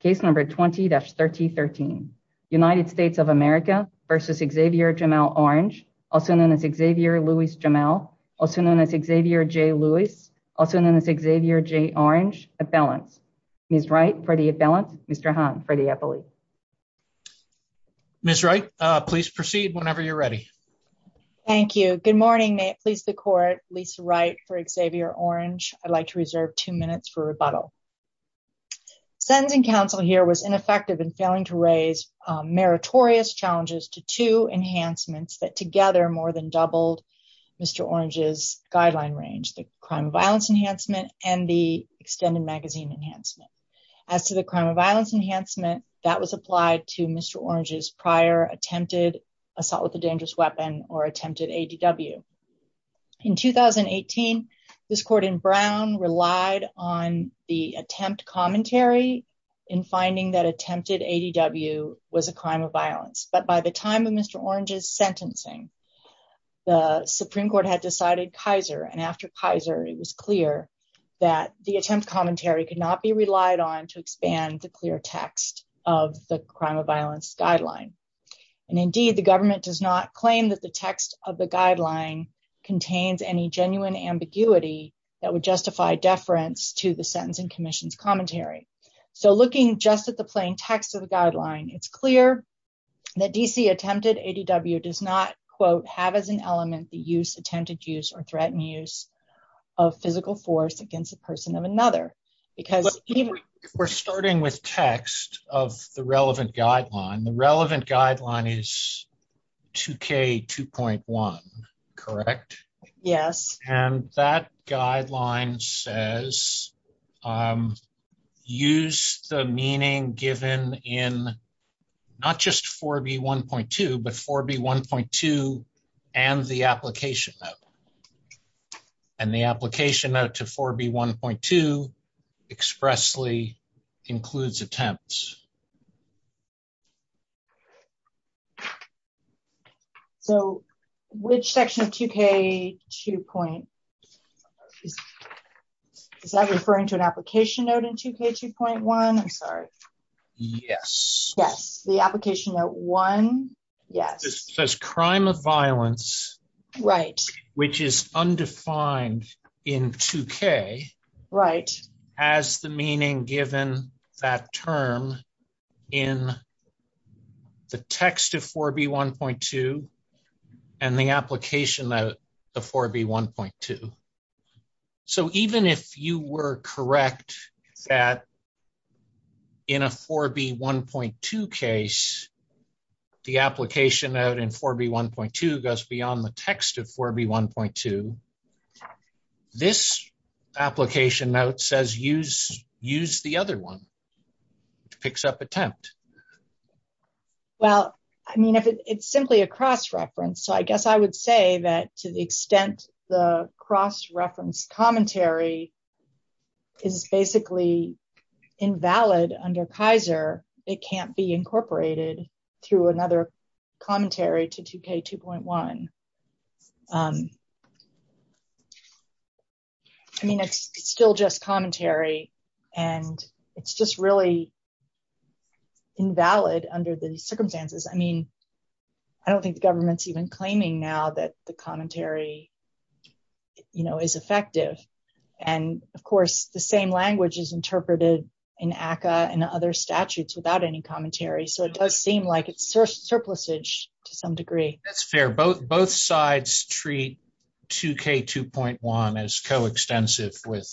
Case number 20-1313. United States of America versus Xavier Jamel Orange, also known as Xavier Louis Jamel, also known as Xavier J. Louis, also known as Xavier J. Orange, appellants. Ms. Wright for the appellant, Mr. Hahn for the appellate. Ms. Wright, please proceed whenever you're ready. Thank you. Good morning. May it please the court, Lisa Wright for Xavier Orange. I'd like to reserve two minutes for rebuttal. Sentencing counsel here was ineffective in failing to raise meritorious challenges to two enhancements that together more than doubled Mr. Orange's guideline range, the crime of violence enhancement and the extended magazine enhancement. As to the crime of violence enhancement, that was applied to Mr. Orange's prior attempted assault with a dangerous weapon or attempted ADW. In 2018, this court in Brown relied on the attempt commentary in finding that attempted ADW was a crime of violence. But by the time of Mr. Orange's sentencing, the Supreme Court had decided Kaiser. And after Kaiser, it was clear that the attempt commentary could not be relied on to expand the clear text of the crime of violence guideline. And indeed, the government does not contains any genuine ambiguity that would justify deference to the sentencing commission's commentary. So looking just at the plain text of the guideline, it's clear that DC attempted ADW does not quote have as an element the use attempted use or threatened use of physical force against the person of another. Because we're starting with text of the relevant guideline, the relevant guideline is 4B2.1, correct? Yes. And that guideline says, use the meaning given in not just 4B1.2, but 4B1.2 and the application note. And the application note to 4B1.2 expressly includes attempts. So which section of 2K2.1, is that referring to an application note in 2K2.1? I'm sorry. Yes. Yes. The application note one. Yes. It says crime of violence. Right. Which is undefined in 2K. Right. As the meaning given that term in the text of 4B1.2 and the application note of 4B1.2. So even if you were correct that in a 4B1.2 case, the application note in 4B1.2 goes beyond the text of 4B1.2, this application note says, use the other one, which picks up attempt. Well, I mean, if it's simply a cross-reference, so I guess I would say that to the extent the cross-reference commentary is basically invalid under Kaiser, it can't be incorporated to another commentary to 2K2.1. I mean, it's still just commentary and it's just really invalid under the circumstances. I mean, I don't think the government's even claiming now that the commentary, you know, is effective. And of course, the same language is interpreted in ACCA and other statutes without any commentary. So it does seem like it's surplusage to some degree. That's fair. Both sides treat 2K2.1 as co-extensive with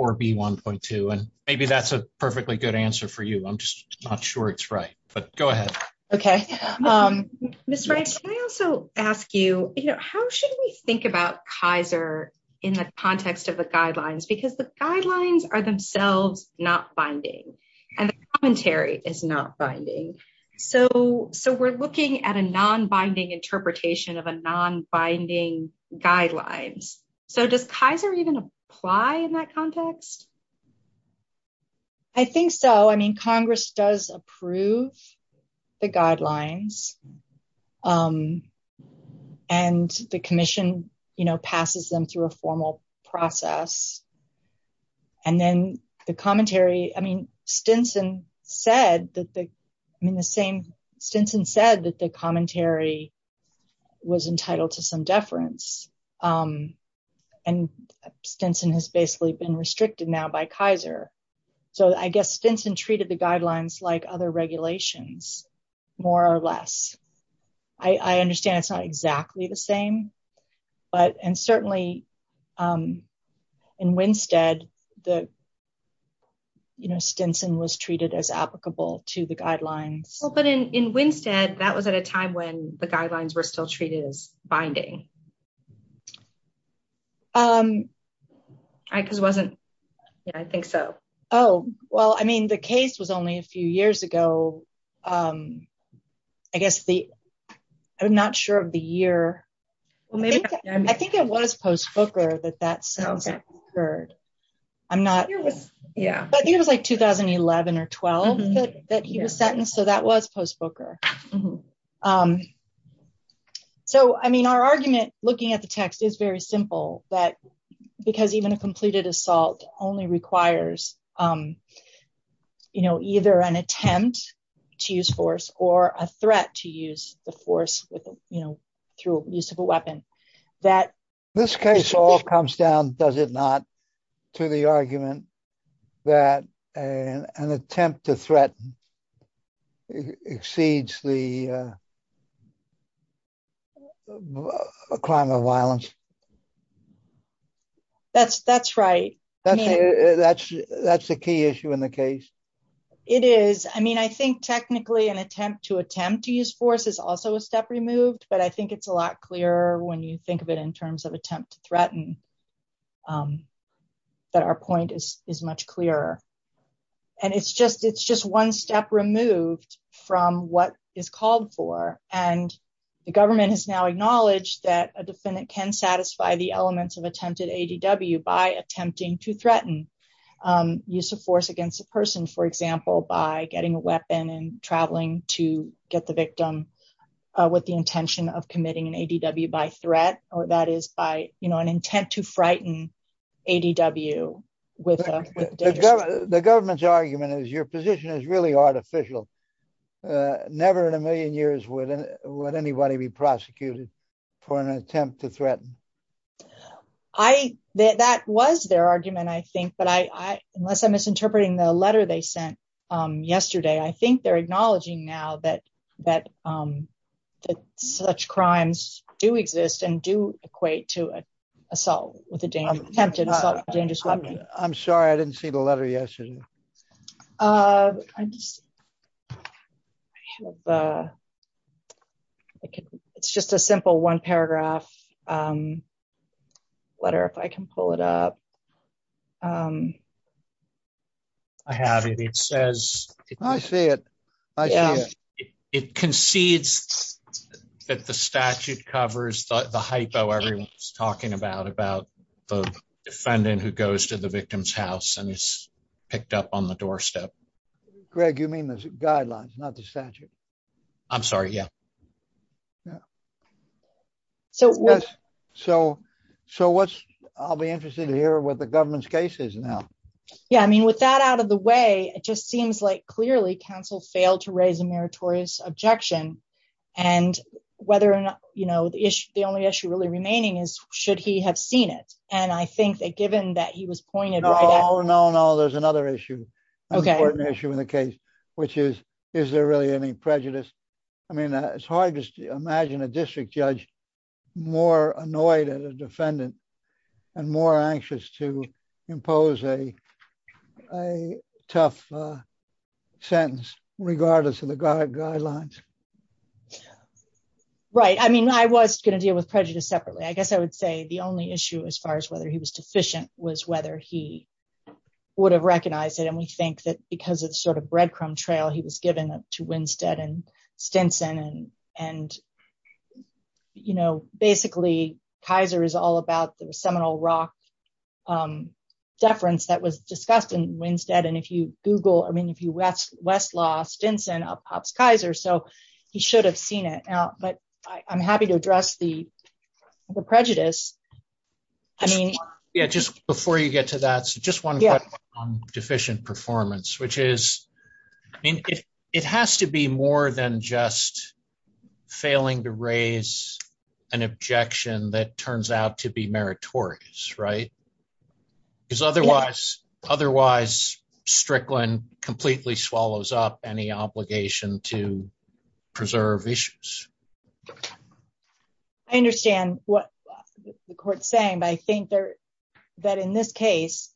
4B1.2. And maybe that's a perfectly good answer for you. I'm just not sure it's right, but go ahead. Okay. Ms. Wright, can I also ask you, you know, how should we think about Kaiser in the context of the guidelines? Because the guidelines are themselves not binding and the commentary is not binding. So we're looking at a non-binding interpretation of a non-binding guidelines. So does Kaiser even apply in that context? I think so. I mean, Congress does approve the guidelines and the commission, you know, passes them through a formal process. And then the commentary, I mean, Stinson said that the commentary was entitled to some deference. And Stinson has basically been restricted now by Kaiser. So I guess Stinson treated the guidelines like other regulations, more or less. I understand it's not exactly the same, but, and certainly in Winstead, you know, Stinson was treated as applicable to the guidelines. Well, but in Winstead, that was at a time when the guidelines were still treated as binding, right? Because it wasn't. Yeah, I think so. Oh, well, I mean, the case was only a few years ago. I guess the, I'm not sure of the year. I think it was post Booker that that sounds occurred. I'm not, I think it was like 2011 or 12 that he was sentenced. So that was post Booker. So, I mean, our argument looking at the text is very simple that, because even a completed assault only requires, you know, either an attempt to use force or a threat to use the force with, you know, through use of a weapon that- This case all comes down, does it not, to the argument that an attempt to threaten exceeds the crime of violence? That's right. That's the key issue in the case. It is. I mean, I think technically an attempt to attempt to use force is also a step removed, but I think it's a lot clearer when you think of it in terms of attempt to threaten that our point is much clearer. And it's just, it's just one step removed from what is called for. And the government has now acknowledged that a defendant can satisfy the elements of attempted ADW by attempting to threaten use of force against a person, for example, by getting a weapon and traveling to get the victim with the intention of committing an ADW by threat, or that is by, you know, intent to frighten ADW. The government's argument is your position is really artificial. Never in a million years would anybody be prosecuted for an attempt to threaten. That was their argument, I think, but I, unless I'm misinterpreting the letter they sent yesterday, I think they're acknowledging now that such crimes do exist and do equate to assault with a dangerous weapon. I'm sorry, I didn't see the letter yesterday. It's just a simple one paragraph letter, if I can pull it up. I have it. It says, I see it. I see it. It concedes that the statute covers the everyone's talking about, about the defendant who goes to the victim's house and is picked up on the doorstep. Greg, you mean the guidelines, not the statute? I'm sorry. Yeah. So, so, so what's, I'll be interested to hear what the government's case is now. Yeah, I mean, with that out of the way, it just seems like clearly counsel failed to raise a meritorious objection and whether or not, you know, the issue, the only issue really remaining is should he have seen it? And I think that given that he was pointed out. No, no, no. There's another issue, an important issue in the case, which is, is there really any prejudice? I mean, it's hard to imagine a district judge more annoyed at a defendant and more anxious to impose a, a tough sentence regardless of the guidelines. Right. I mean, I was going to deal with prejudice separately. I guess I would say the only issue as far as whether he was deficient was whether he would have recognized it. And we think that because it's sort of breadcrumb trail, he was given up to Winstead and Stinson and, you know, basically Kaiser is all about the Seminole Rock deference that was discussed in Winstead. And if you Google, I mean, if you West, Westlaw, Stinson, up pops Kaiser, so he should have seen it now, but I'm happy to address the prejudice. I mean, yeah, just before you get to that, so just one question on deficient performance, which is, I mean, it has to be more than just failing to raise an objection that turns out to be meritorious, right? Because otherwise, otherwise Strickland completely swallows up any obligation to preserve issues. I understand what the court's saying, but I think there, that in this case,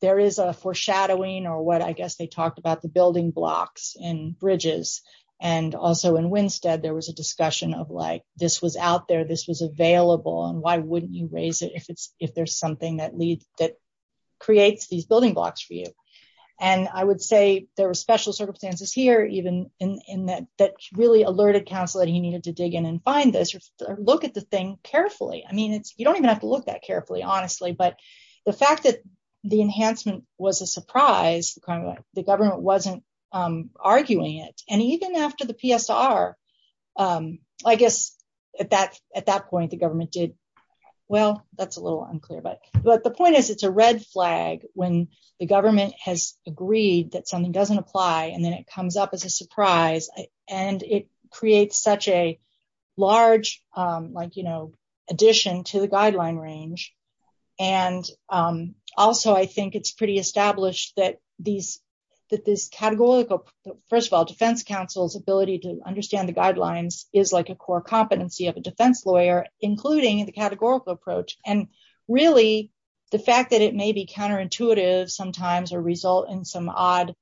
there is a foreshadowing or what, I guess they talked about the building blocks and bridges. And also in Winstead, there was a discussion of like, this was out there, this was available and why wouldn't you raise it if it's, if there's something that leads, that creates these building blocks for you. And I would say there were special circumstances here, even in that, that really alerted counsel that he needed to dig in and find this, look at the thing carefully. I mean, it's, you don't even have to look that carefully, honestly, but the fact that the enhancement was a surprise, the government wasn't arguing it. And even after the PSR, I guess at that point, the government did, well, that's a little unclear, but the point is it's a red flag when the government has agreed that something doesn't apply and then it comes up as a surprise and it creates such a large, like, you know, addition to the guideline range. And also I think it's pretty established that these, that this categorical, first of all, defense counsel's ability to understand the guidelines is like a core competency of a defense lawyer, including the categorical approach. And really the fact that it may be counterintuitive sometimes or result in some odd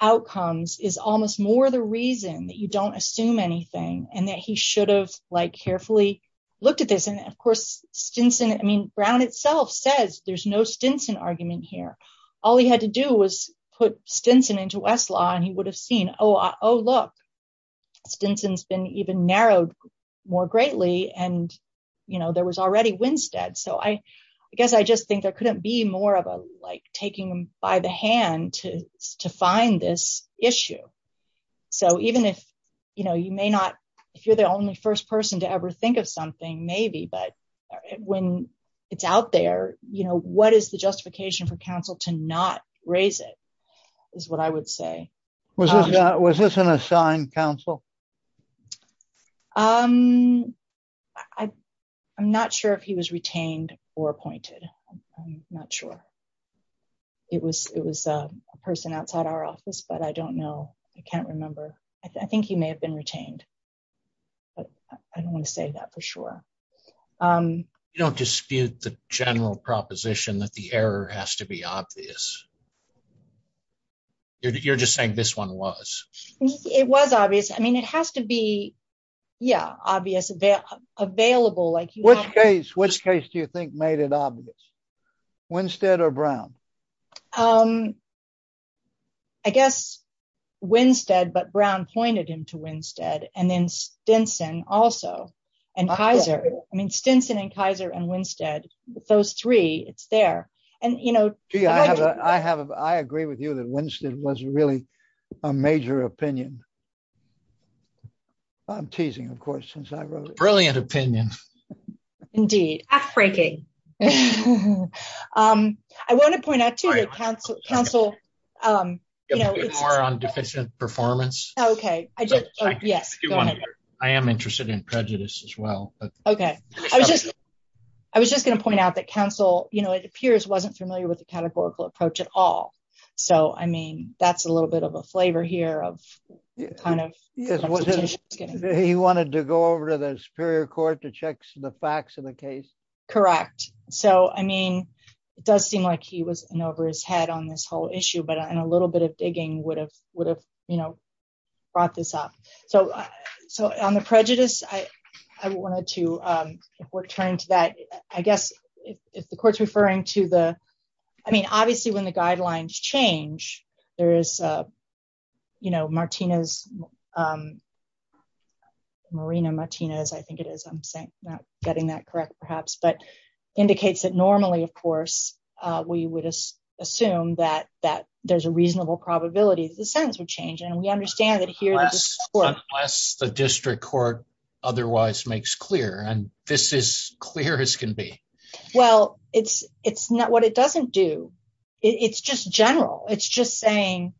outcomes is almost more the reason that you don't assume anything and that he should have, like, carefully looked at this. And of course, Stinson, I mean, Brown itself says there's no Stinson argument here. All he had to do was put Stinson into Westlaw and he would have seen, oh, look, Stinson's been even narrowed more greatly and, you know, there was already Winstead. So I guess I just think there couldn't be more of a, like, taking them by the hand to find this issue. So even if, you know, you may not, if you're the only first person to ever think of something, maybe, but when it's out there, you know, what is the justification for counsel to not raise it is what I would say. Was this an assigned counsel? I'm not sure if he was retained or appointed. I'm not sure. It was a person outside our office, but I don't know. I can't remember. I think he may have been retained, but I don't want to say that for sure. You don't dispute the general proposition that the error has to be obvious. You're just saying this one was. It was obvious. I mean, it has to be, yeah, obvious, available, like, which case, which case do you think made it obvious? Winstead or Brown? I guess Winstead, but Brown pointed him to Winstead and then Stinson also and Kaiser. I mean, Stinson and Kaiser and Winstead, those three, it's there. And, you know, I have, I agree with you that Winstead was really a major opinion. I'm teasing, of course, since I wrote it. Brilliant opinion. Indeed. Act-breaking. I want to point out too that counsel, you know. More on deficient performance. Okay. I just, yes, go ahead. I am interested in prejudice as well. Okay. I was just, I was just going to point out that counsel, you know, it appears wasn't familiar with the categorical approach at all. So, I mean, that's a little bit of a flavor here of kind of. He wanted to go over to the superior court to check the facts of the case. Correct. So, I mean, it does seem like he was in over his head on this whole issue, but in a little bit of digging would have, would have, you know, brought this up. So, so on the prejudice, I wanted to, if we're turning to that, I guess if the court's referring to the, I mean, obviously when the guidelines change, there is, you know, Martina's, Marina Martinez, I think it is, I'm saying, not getting that correct perhaps, but indicates that normally, of course, we would assume that, that there's a reasonable probability that the sentence would change. And we understand that here. Unless the district court otherwise makes clear, and this is clear as can be. Well, it's, it's not what it doesn't do. It's just general. It's just saying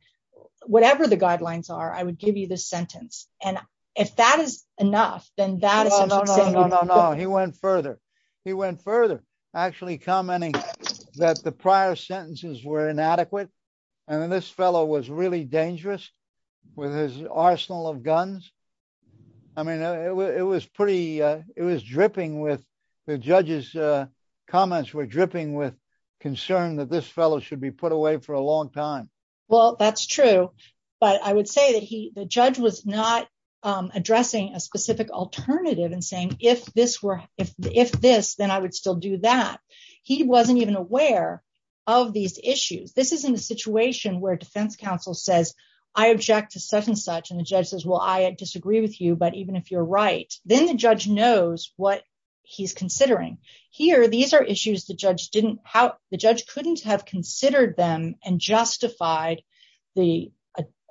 whatever the guidelines are, I would give you this sentence. And if that is enough, then that is. No, no, no, no, no, no. He went further. He went further actually commenting that the prior sentences were inadequate. And then this fellow was really dangerous with his arsenal of guns. I mean, it was pretty, it was dripping with the judge's comments were dripping with concern that this fellow should be put away for a long time. Well, that's true. But I would say that he, the judge was not addressing a specific alternative and saying, if this were, if, if this, then I would still do that. He wasn't even aware of these issues. This is in a situation where defense counsel says, I object to such and such. And the judge says, well, I disagree with you. But even if you're right, then the judge knows what he's considering here. These are issues the judge didn't have. The judge couldn't have considered them and justified the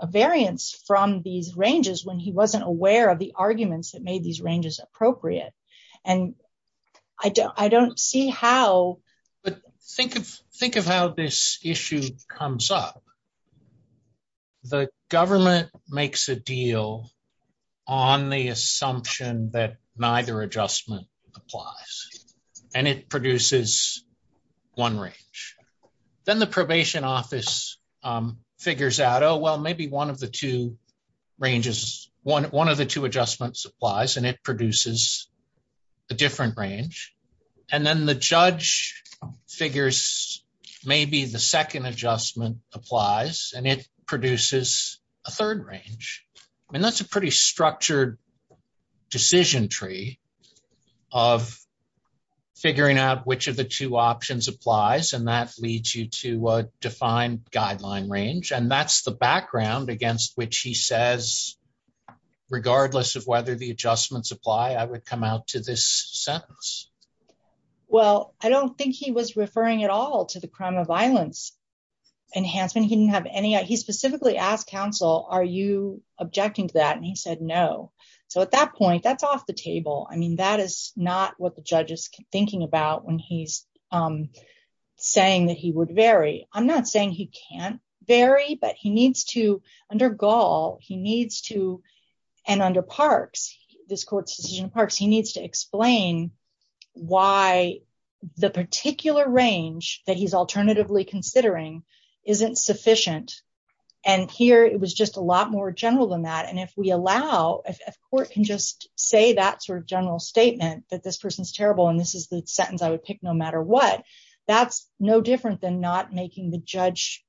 variance from these ranges when he wasn't aware of the arguments that made these ranges appropriate. And I don't, I don't see how. But think of, think of how this issue comes up. The government makes a deal on the assumption that neither adjustment applies and it produces one range. Then the probation office figures out, oh, well, maybe one of the two ranges, one of the two adjustments applies and it produces a different range. And then the judge figures maybe the second adjustment applies and it produces a third range. I mean, that's a pretty structured decision tree of figuring out which of the two options applies. And that leads you to a guideline range. And that's the background against which he says, regardless of whether the adjustments apply, I would come out to this sentence. Well, I don't think he was referring at all to the crime of violence enhancement. He didn't have any, he specifically asked counsel, are you objecting to that? And he said, no. So at that point, that's off the table. I mean, that is not what the judge is thinking about when he's saying that he would vary. I'm not saying he can't vary, but he needs to, under Gall, he needs to, and under Parks, this court's decision in Parks, he needs to explain why the particular range that he's alternatively considering isn't sufficient. And here it was just a lot more general than that. And if we allow, if court can just say that sort of general statement that this person's terrible, and this is the sentence I would pick no matter what, that's no different than not making the judge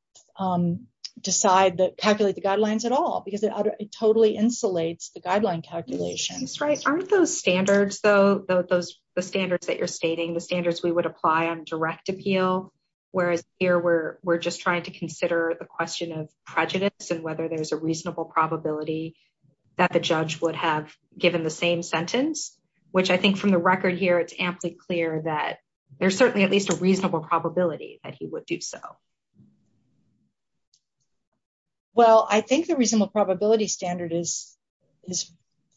decide that, calculate the guidelines at all, because it totally insulates the guideline calculations. Right. Aren't those standards, though, the standards that you're stating, the standards we would apply on direct appeal, whereas here we're just trying to consider the question of prejudice and whether there's a from the record here, it's amply clear that there's certainly at least a reasonable probability that he would do so. Well, I think the reasonable probability standard is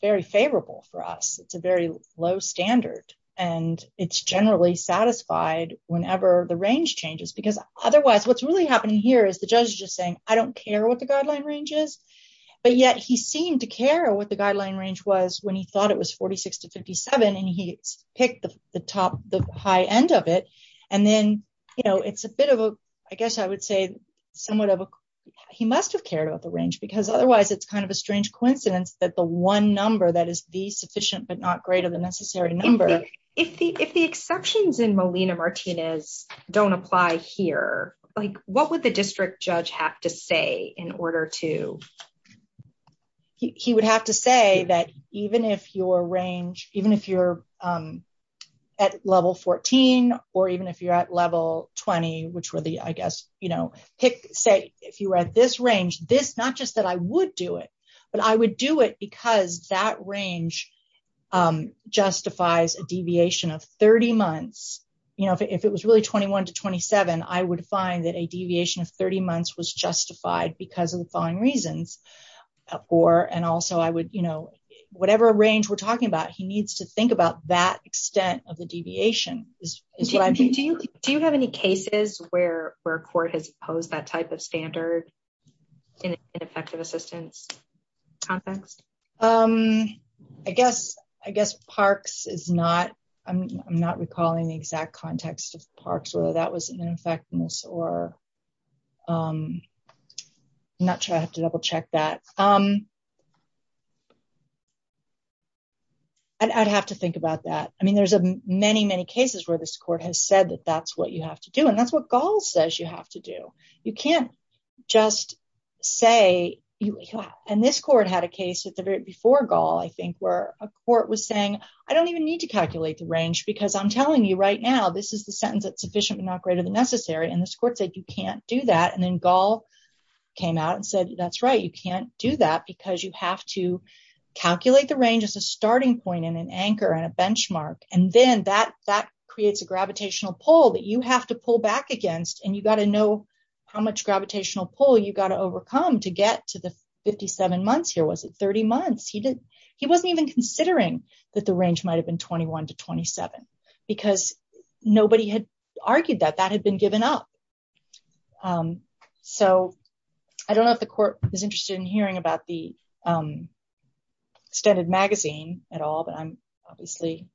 very favorable for us. It's a very low standard, and it's generally satisfied whenever the range changes, because otherwise what's really happening here is the judge is just saying, I don't care what the guideline range is. But yet he seemed to care what the guideline range was when he thought it was 46 to 57, and he picked the top, the high end of it. And then it's a bit of a, I guess I would say somewhat of a, he must have cared about the range because otherwise it's kind of a strange coincidence that the one number that is the sufficient but not greater than necessary number. If the exceptions in Molina-Martinez don't apply here, what would the district judge have to say in order to, he would have to say that even if your range, even if you're at level 14, or even if you're at level 20, which were the, I guess, you know, pick, say if you were at this range, this, not just that I would do it, but I would do it because that range justifies a deviation of 30 months. You know, if it was really 21 to 27, I would find that a deviation of 30 months was justified because of the following reasons. Or, and also I would, you know, whatever range we're talking about, he needs to think about that extent of the deviation. Do you have any cases where court has posed that type of standard in effective assistance context? I guess parks is not, I'm not sure I have to double check that. I'd have to think about that. I mean, there's many, many cases where this court has said that that's what you have to do. And that's what Gall says you have to do. You can't just say, and this court had a case at the very, before Gall, I think, where a court was saying, I don't even need to calculate the range because I'm telling you right now, this is the sentence that's sufficient but not greater than necessary. And this court said, you can't do that. And then Gall came out and said, that's right. You can't do that because you have to calculate the range as a starting point and an anchor and a benchmark. And then that creates a gravitational pull that you have to pull back against. And you got to know how much gravitational pull you got to overcome to get to the 57 months here. Was it 30 months? He wasn't even considering that the range might have been 21 to 27 because nobody had argued that that had been given up. So I don't know if the court is interested in hearing about the extended magazine at all, but I'm obviously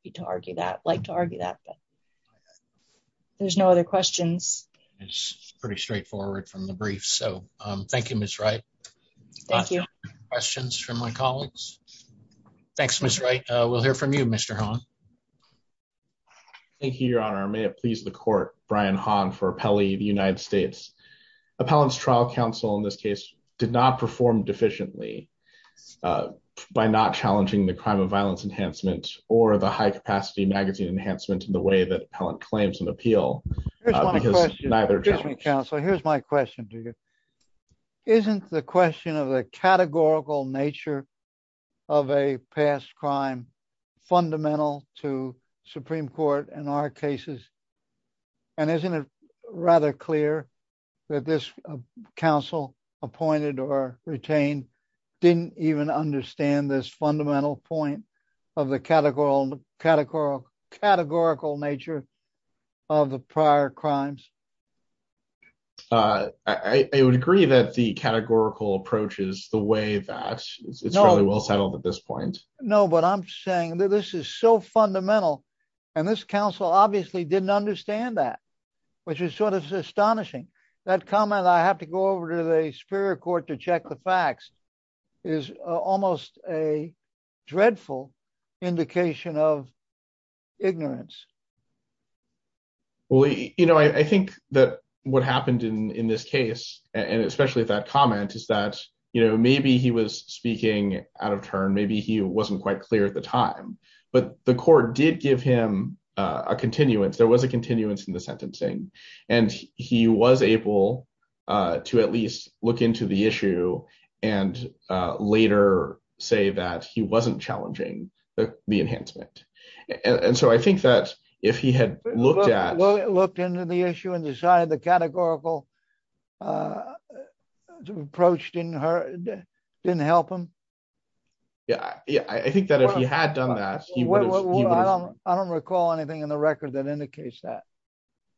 happy to argue that, like to argue that. There's no other questions. It's pretty straightforward from the brief. So thank you, Ms. Wright. Thank you. Questions from my colleagues? Thanks, Ms. Wright. We'll hear from you, Mr. Hahn. Thank you, Your Honor. May it please the court, Brian Hahn for Appellee of the United States. Appellant's trial counsel in this case did not perform deficiently by not challenging the crime of violence enhancement or the high capacity magazine enhancement in the way that appellant claims an appeal. Here's my question to you. Isn't the question of the categorical nature of a past crime fundamental to Supreme Court in our cases? And isn't it rather clear that this counsel appointed or retained didn't even understand this fundamental point of the categorical nature of the prior crimes? I would agree that the categorical approach is the way that it's fairly well settled at this point. No, but I'm saying that this is so fundamental and this counsel obviously didn't understand that, which is sort of astonishing. That comment, I have to go over to the dreadful indication of ignorance. Well, you know, I think that what happened in this case and especially that comment is that, you know, maybe he was speaking out of turn. Maybe he wasn't quite clear at the time, but the court did give him a continuance. There was a continuance in the sentencing, and he was able to at least look into the issue and later say that he wasn't challenging the enhancement. And so I think that if he had looked at- Looked into the issue and decided the categorical approach didn't help him? Yeah. I think that if he had done that- I don't recall anything in the record that indicates that.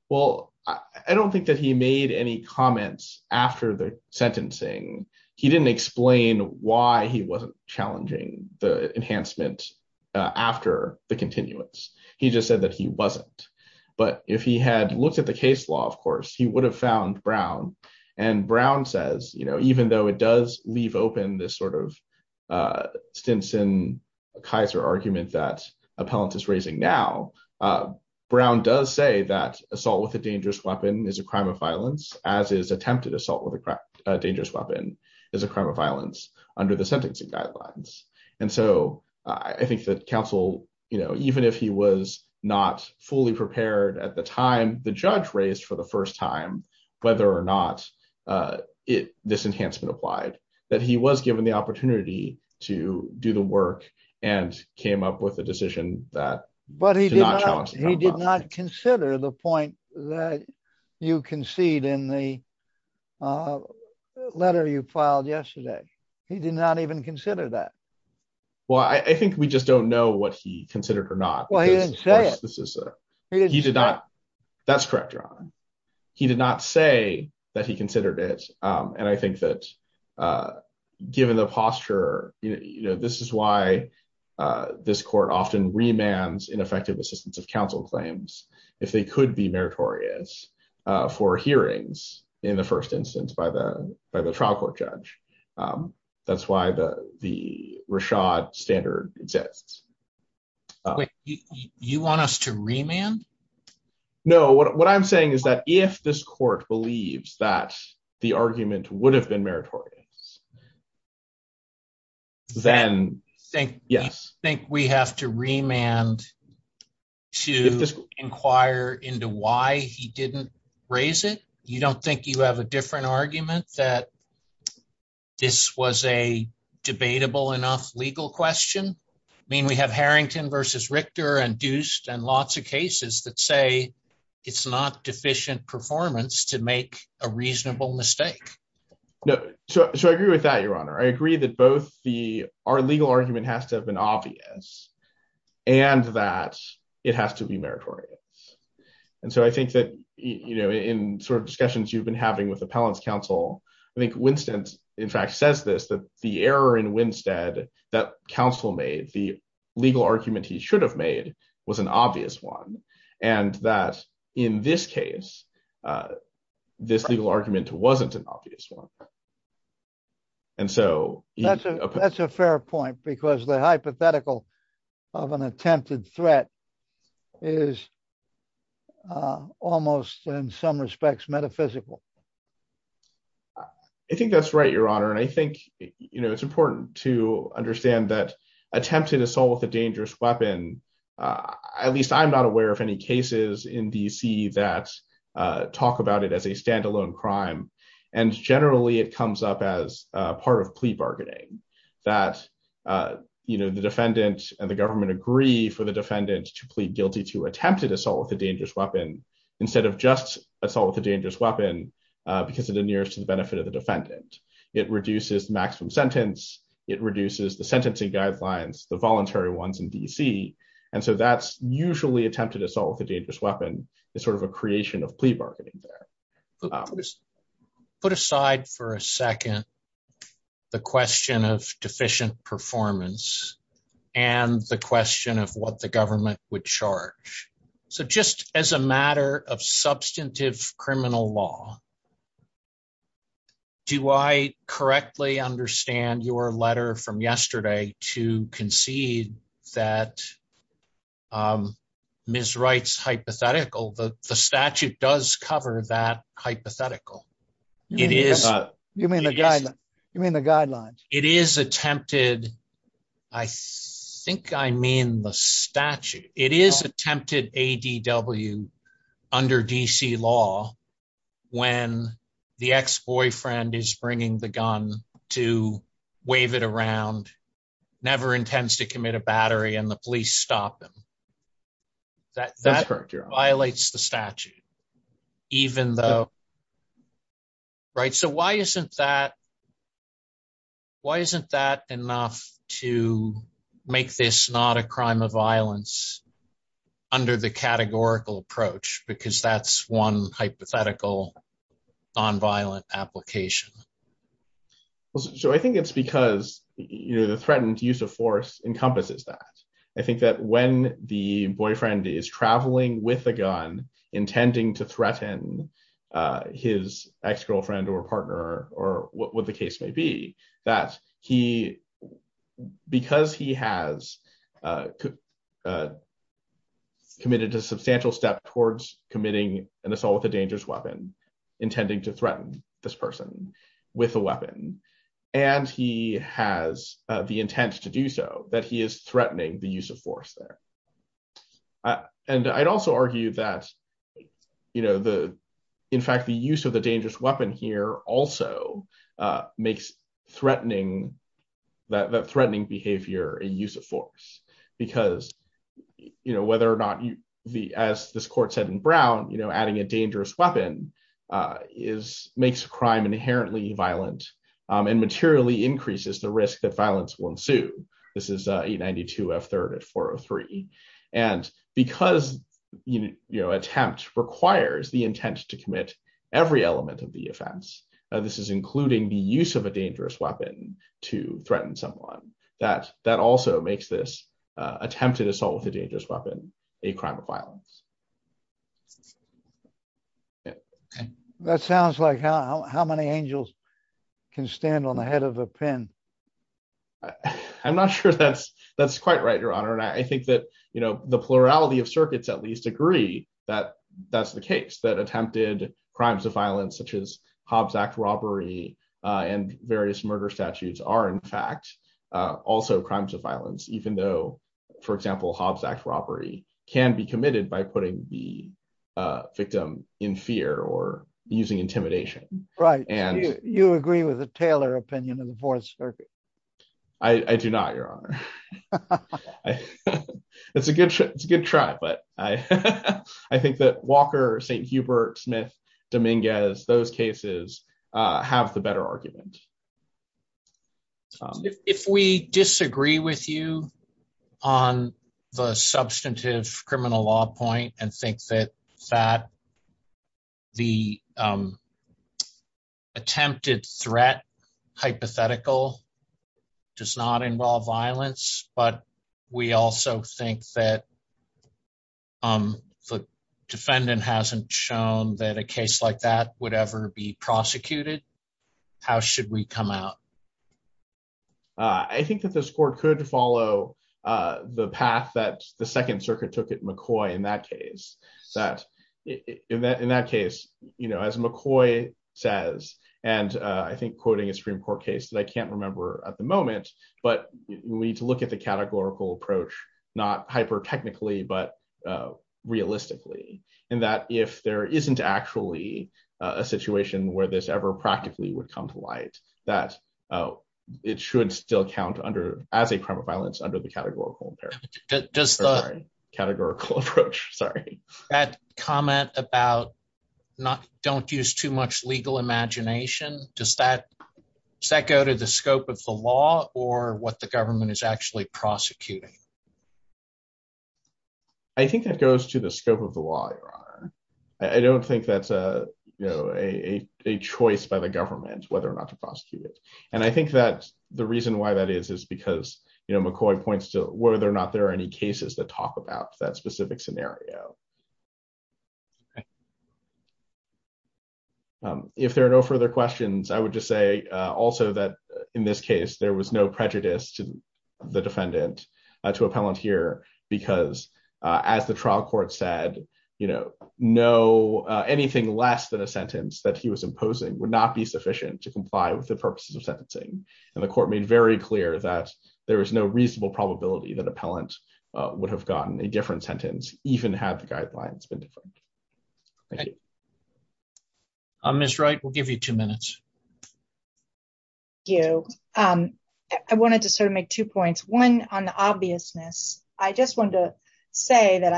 Well, I don't think that he made any comments after the sentencing. He didn't explain why he wasn't challenging the enhancement after the continuance. He just said that he wasn't. But if he had looked at the case law, of course, he would have found Brown. And Brown says, you know, even though it does leave open this sort of Stinson-Kaiser argument that appellant is raising now, Brown does say that assault with a dangerous weapon is a crime of violence, as is attempted assault with a dangerous weapon is a crime of violence under the sentencing guidelines. And so I think that counsel, you know, even if he was not fully prepared at the time the judge raised for the first time whether or not this enhancement applied, that he was given the He did not consider the point that you concede in the letter you filed yesterday. He did not even consider that. Well, I think we just don't know what he considered or not. That's correct, Your Honor. He did not say that he considered it. And I think that given the posture, you know, this is why this court often remands ineffective assistance of counsel claims if they could be meritorious for hearings in the first instance by the trial court judge. That's why the Rashad standard exists. You want us to remand? No, what I'm saying is that if this court believes that the argument would have been meritorious, then yes. I think we have to remand to inquire into why he didn't raise it. You don't think you have a different argument that this was a debatable enough legal question? I mean, we have Harrington versus Richter and Deust and lots of cases that say it's not deficient performance to make a reasonable mistake. No, so I agree with that, Your Honor. I agree that both the our legal argument has to have been obvious and that it has to be meritorious. And so I think that, you know, in sort of discussions you've been having with Appellant's counsel, I think Winston, in fact, says this, that the error in Winstead that counsel made the legal argument he should have made was an obvious one. And that in this case, this legal argument wasn't an obvious one. And so- That's a fair point because the hypothetical of an attempted threat is almost in some respects metaphysical. I think that's right, Your Honor. And I think, you know, it's important to understand that attempted assault with a dangerous weapon, at least I'm not aware of any cases in D.C. that talk about it as a standalone crime. And generally it comes up as part of plea bargaining that, you know, the defendant and the government agree for the defendant to plead guilty to attempted assault with a dangerous weapon instead of just assault with a dangerous weapon because of the nearest to the benefit of the defendant. It reduces the maximum sentence. It reduces the sentencing guidelines, the voluntary ones in D.C. And so that's usually attempted assault with a dangerous weapon. It's sort of a creation of plea bargaining there. Put aside for a second the question of deficient performance and the question of what the government would charge. So just as a matter of substantive criminal law, do I correctly understand your letter from yesterday to concede that Ms. Wright's hypothetical, the statute does cover that hypothetical. You mean the guidelines? It is attempted. I think I mean the statute. It is attempted ADW under D.C. law when the ex-boyfriend is bringing the gun to wave it around, never intends to commit a battery, and the police stop him. That violates the statute even though, right? So why isn't that enough to make this not a crime of violence under the categorical approach? Because that's one hypothetical nonviolent application. So I think it's because, you know, the threatened use of force encompasses that. I think that when the boyfriend is traveling with a gun intending to threaten his ex-girlfriend or partner or what the case may be, that he, because he has committed a substantial step towards committing an assault with a dangerous weapon, intending to threaten this person with a weapon, and he has the intent to do so, that he is threatening the use of force there. And I'd also argue that, you know, the, in fact, the use of the dangerous weapon here also makes threatening, that threatening behavior a use of force. Because, you know, whether or not you, as this court said in Brown, you know, adding a dangerous weapon is, makes crime inherently violent and materially increases the risk that violence will ensue. This is 892F3 at 403. And because, you know, attempt requires the intent to commit every element of the offense, this is including the use of a dangerous weapon to threaten someone. That also makes this attempted assault with a dangerous weapon a crime of violence. That sounds like how many angels can stand on the head of a pin. I'm not sure that's quite right, Your Honor. And I think that, you know, the plurality of circuits at least agree that that's the case, that attempted crimes of violence such as Hobbs Act robbery and various murder statutes are in fact also crimes of violence, even though, for example, Hobbs Act robbery can be committed by putting the victim in fear or using intimidation. Right. You agree with the Taylor opinion of the Fourth Circuit? I do not, Your Honor. It's a good try, but I think that Walker, St. Hubert, Smith, Dominguez, those cases have the better argument. If we disagree with you on the substantive criminal law point and think that the attempted threat hypothetical does not involve violence, but we also think that the defendant hasn't shown that a case like that would ever be prosecuted, how should we come out? I think that this court could follow the path that the Second Circuit took at McCoy in that case. In that case, you know, as McCoy says, and I think quoting a Supreme Court case that I can't remember at the moment, but we need to look at the categorical approach, not hyper-technically, but realistically, in that if there isn't actually a situation where this ever practically would come to light, that it should still count as a crime of violence under the categorical approach. Does that comment about don't use too much legal imagination, does that go to the scope of the law or what the government is actually prosecuting? I think that goes to the scope of the law, Your Honor. I don't think that's a choice by the government whether or not to prosecute it, and I think that the reason why that is is because McCoy points to whether or not there are any cases that talk about that specific scenario. If there are no further questions, I would just say also that in this case there was no prejudice to the defendant, to appellant here, because as the trial court said, you know, anything less than a sentence that he was imposing would not be sufficient to comply with the purposes of sentencing, and the court made very clear that there was no reasonable probability that appellant would have gotten a different sentence even had the guidelines been different. All right. Ms. Wright, we'll give you two minutes. Thank you. I wanted to sort of make two points. One on the obviousness. I just wanted to say that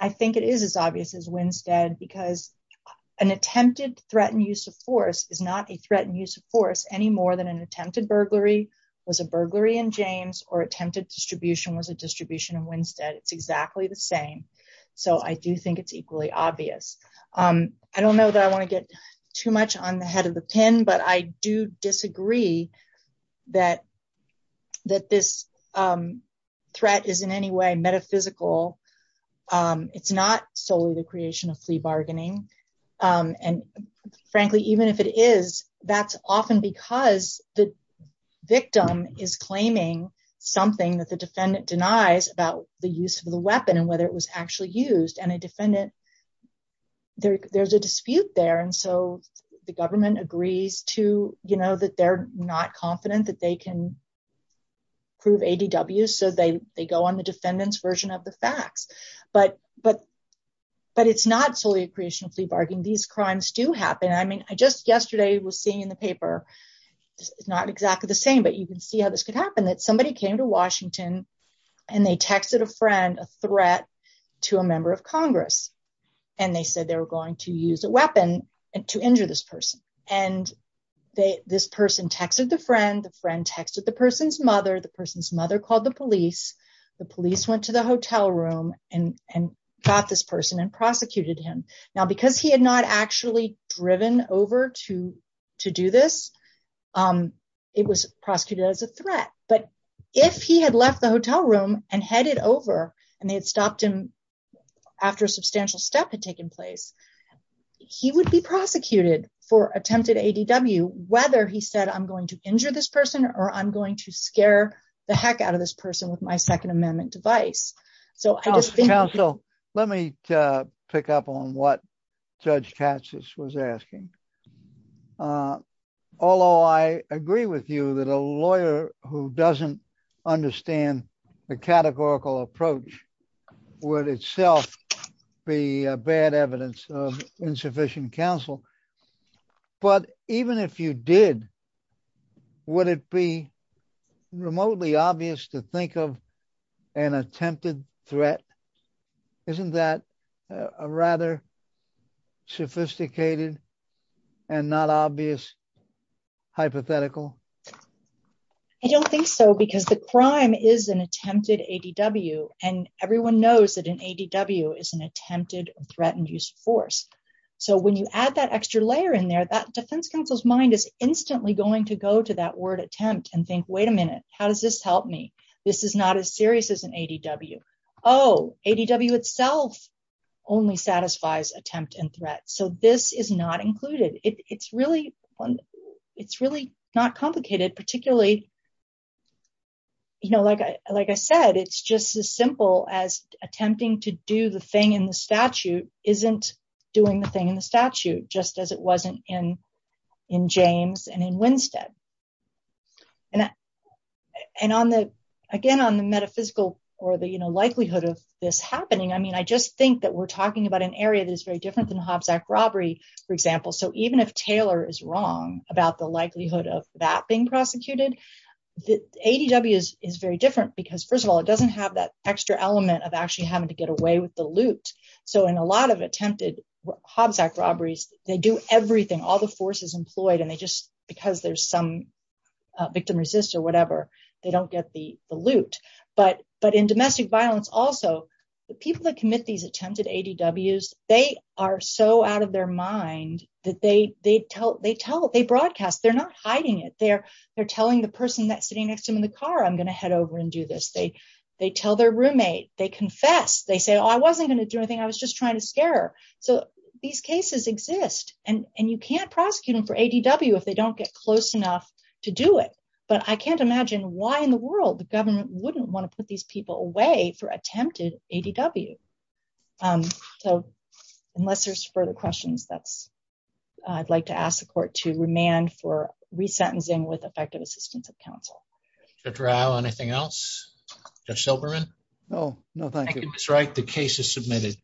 I think it is as obvious as Winstead because an attempted threatened use of force is not a threatened use of force any more than an attempted burglary was a burglary in James or attempted distribution was a distribution of Winstead. It's exactly the same, so I do think it's equally obvious. I don't know that I want to get too much on the head of the pin, but I do disagree that this threat is in any way metaphysical. It's not solely the creation of flea bargaining, and frankly, even if it is, that's often because the victim is claiming something that the defendant denies about the use of the weapon and whether it was actually used, and a defendant, there's a dispute there, and so the government agrees to, you know, that they're not confident that they can prove ADWs, so they go on the defendant's version of the facts, but it's not solely a creation of flea bargaining. These crimes do happen. I mean, I just yesterday was seeing in the paper, it's not exactly the same, but you can see how this could happen, that somebody came to Washington, and they texted a friend a threat to a member of Congress, and they said they were going to use a weapon to injure this person, and this person texted the friend. The friend texted the person's mother. The person's mother called the police. The police went to the hotel room and got this person and prosecuted him. Now, because he had not actually driven over to do this, it was prosecuted as a threat, but if he had left the hotel room and headed over, and they had stopped him after a substantial step had taken place, he would be prosecuted for attempted ADW, whether he said, I'm going to injure this person or I'm going to injure this person, or I'm going to injure this person, or I'm going to injure this person. So, I just think... Counsel, let me pick up on what Judge Katsas was asking. Although I agree with you that a lawyer who doesn't understand the categorical approach would itself be a bad evidence of insufficient counsel, but even if you did, would it be remotely obvious to think of an attempted threat? Isn't that a rather sophisticated and not obvious hypothetical? I don't think so, because the crime is an attempted ADW, and everyone knows that an ADW is an attempted or threatened use of force. So, when you add that extra layer in there, that defense counsel's mind is instantly going to go to that word attempt and think, wait a minute, how does this help me? This is not as serious as an ADW. Oh, ADW itself only satisfies attempt and threat. So, this is not included. It's really not complicated, particularly... Like I said, it's just as simple as attempting to do the thing in the statute isn't doing the thing in the statute, just as it wasn't in James and in Winstead. And again, on the metaphysical or the likelihood of this happening, I mean, I just think that we're talking about an area that is very different than the Hobbs Act robbery, for example. So, even if Taylor is wrong about the likelihood of that being prosecuted, the ADW is very different because, first of all, it doesn't have that extra element of actually having to get away with the loot. So, in a lot of attempted Hobbs Act robberies, they do everything, all the forces employed, and they just, because there's some victim resist or whatever, they don't get the loot. But in domestic violence also, the people that commit these attempted ADWs, they are so out of their mind that they broadcast. They're not hiding it. They're telling the person that's sitting next to them in the car, I'm going to head over and do this. They tell their roommate. They confess. They say, oh, I wasn't going to do anything. I was just trying to scare her. So, these cases exist, and you can't prosecute them for ADW if they don't get close enough to do it. But I can't imagine why in the world the government wouldn't want to put these people away for attempted ADW. So, unless there's further questions, that's, I'd like to ask the court to remand for resentencing with effective assistance of counsel. Judge Rao, anything else? Judge Silberman? No, no, thank you. That's right. The case is submitted.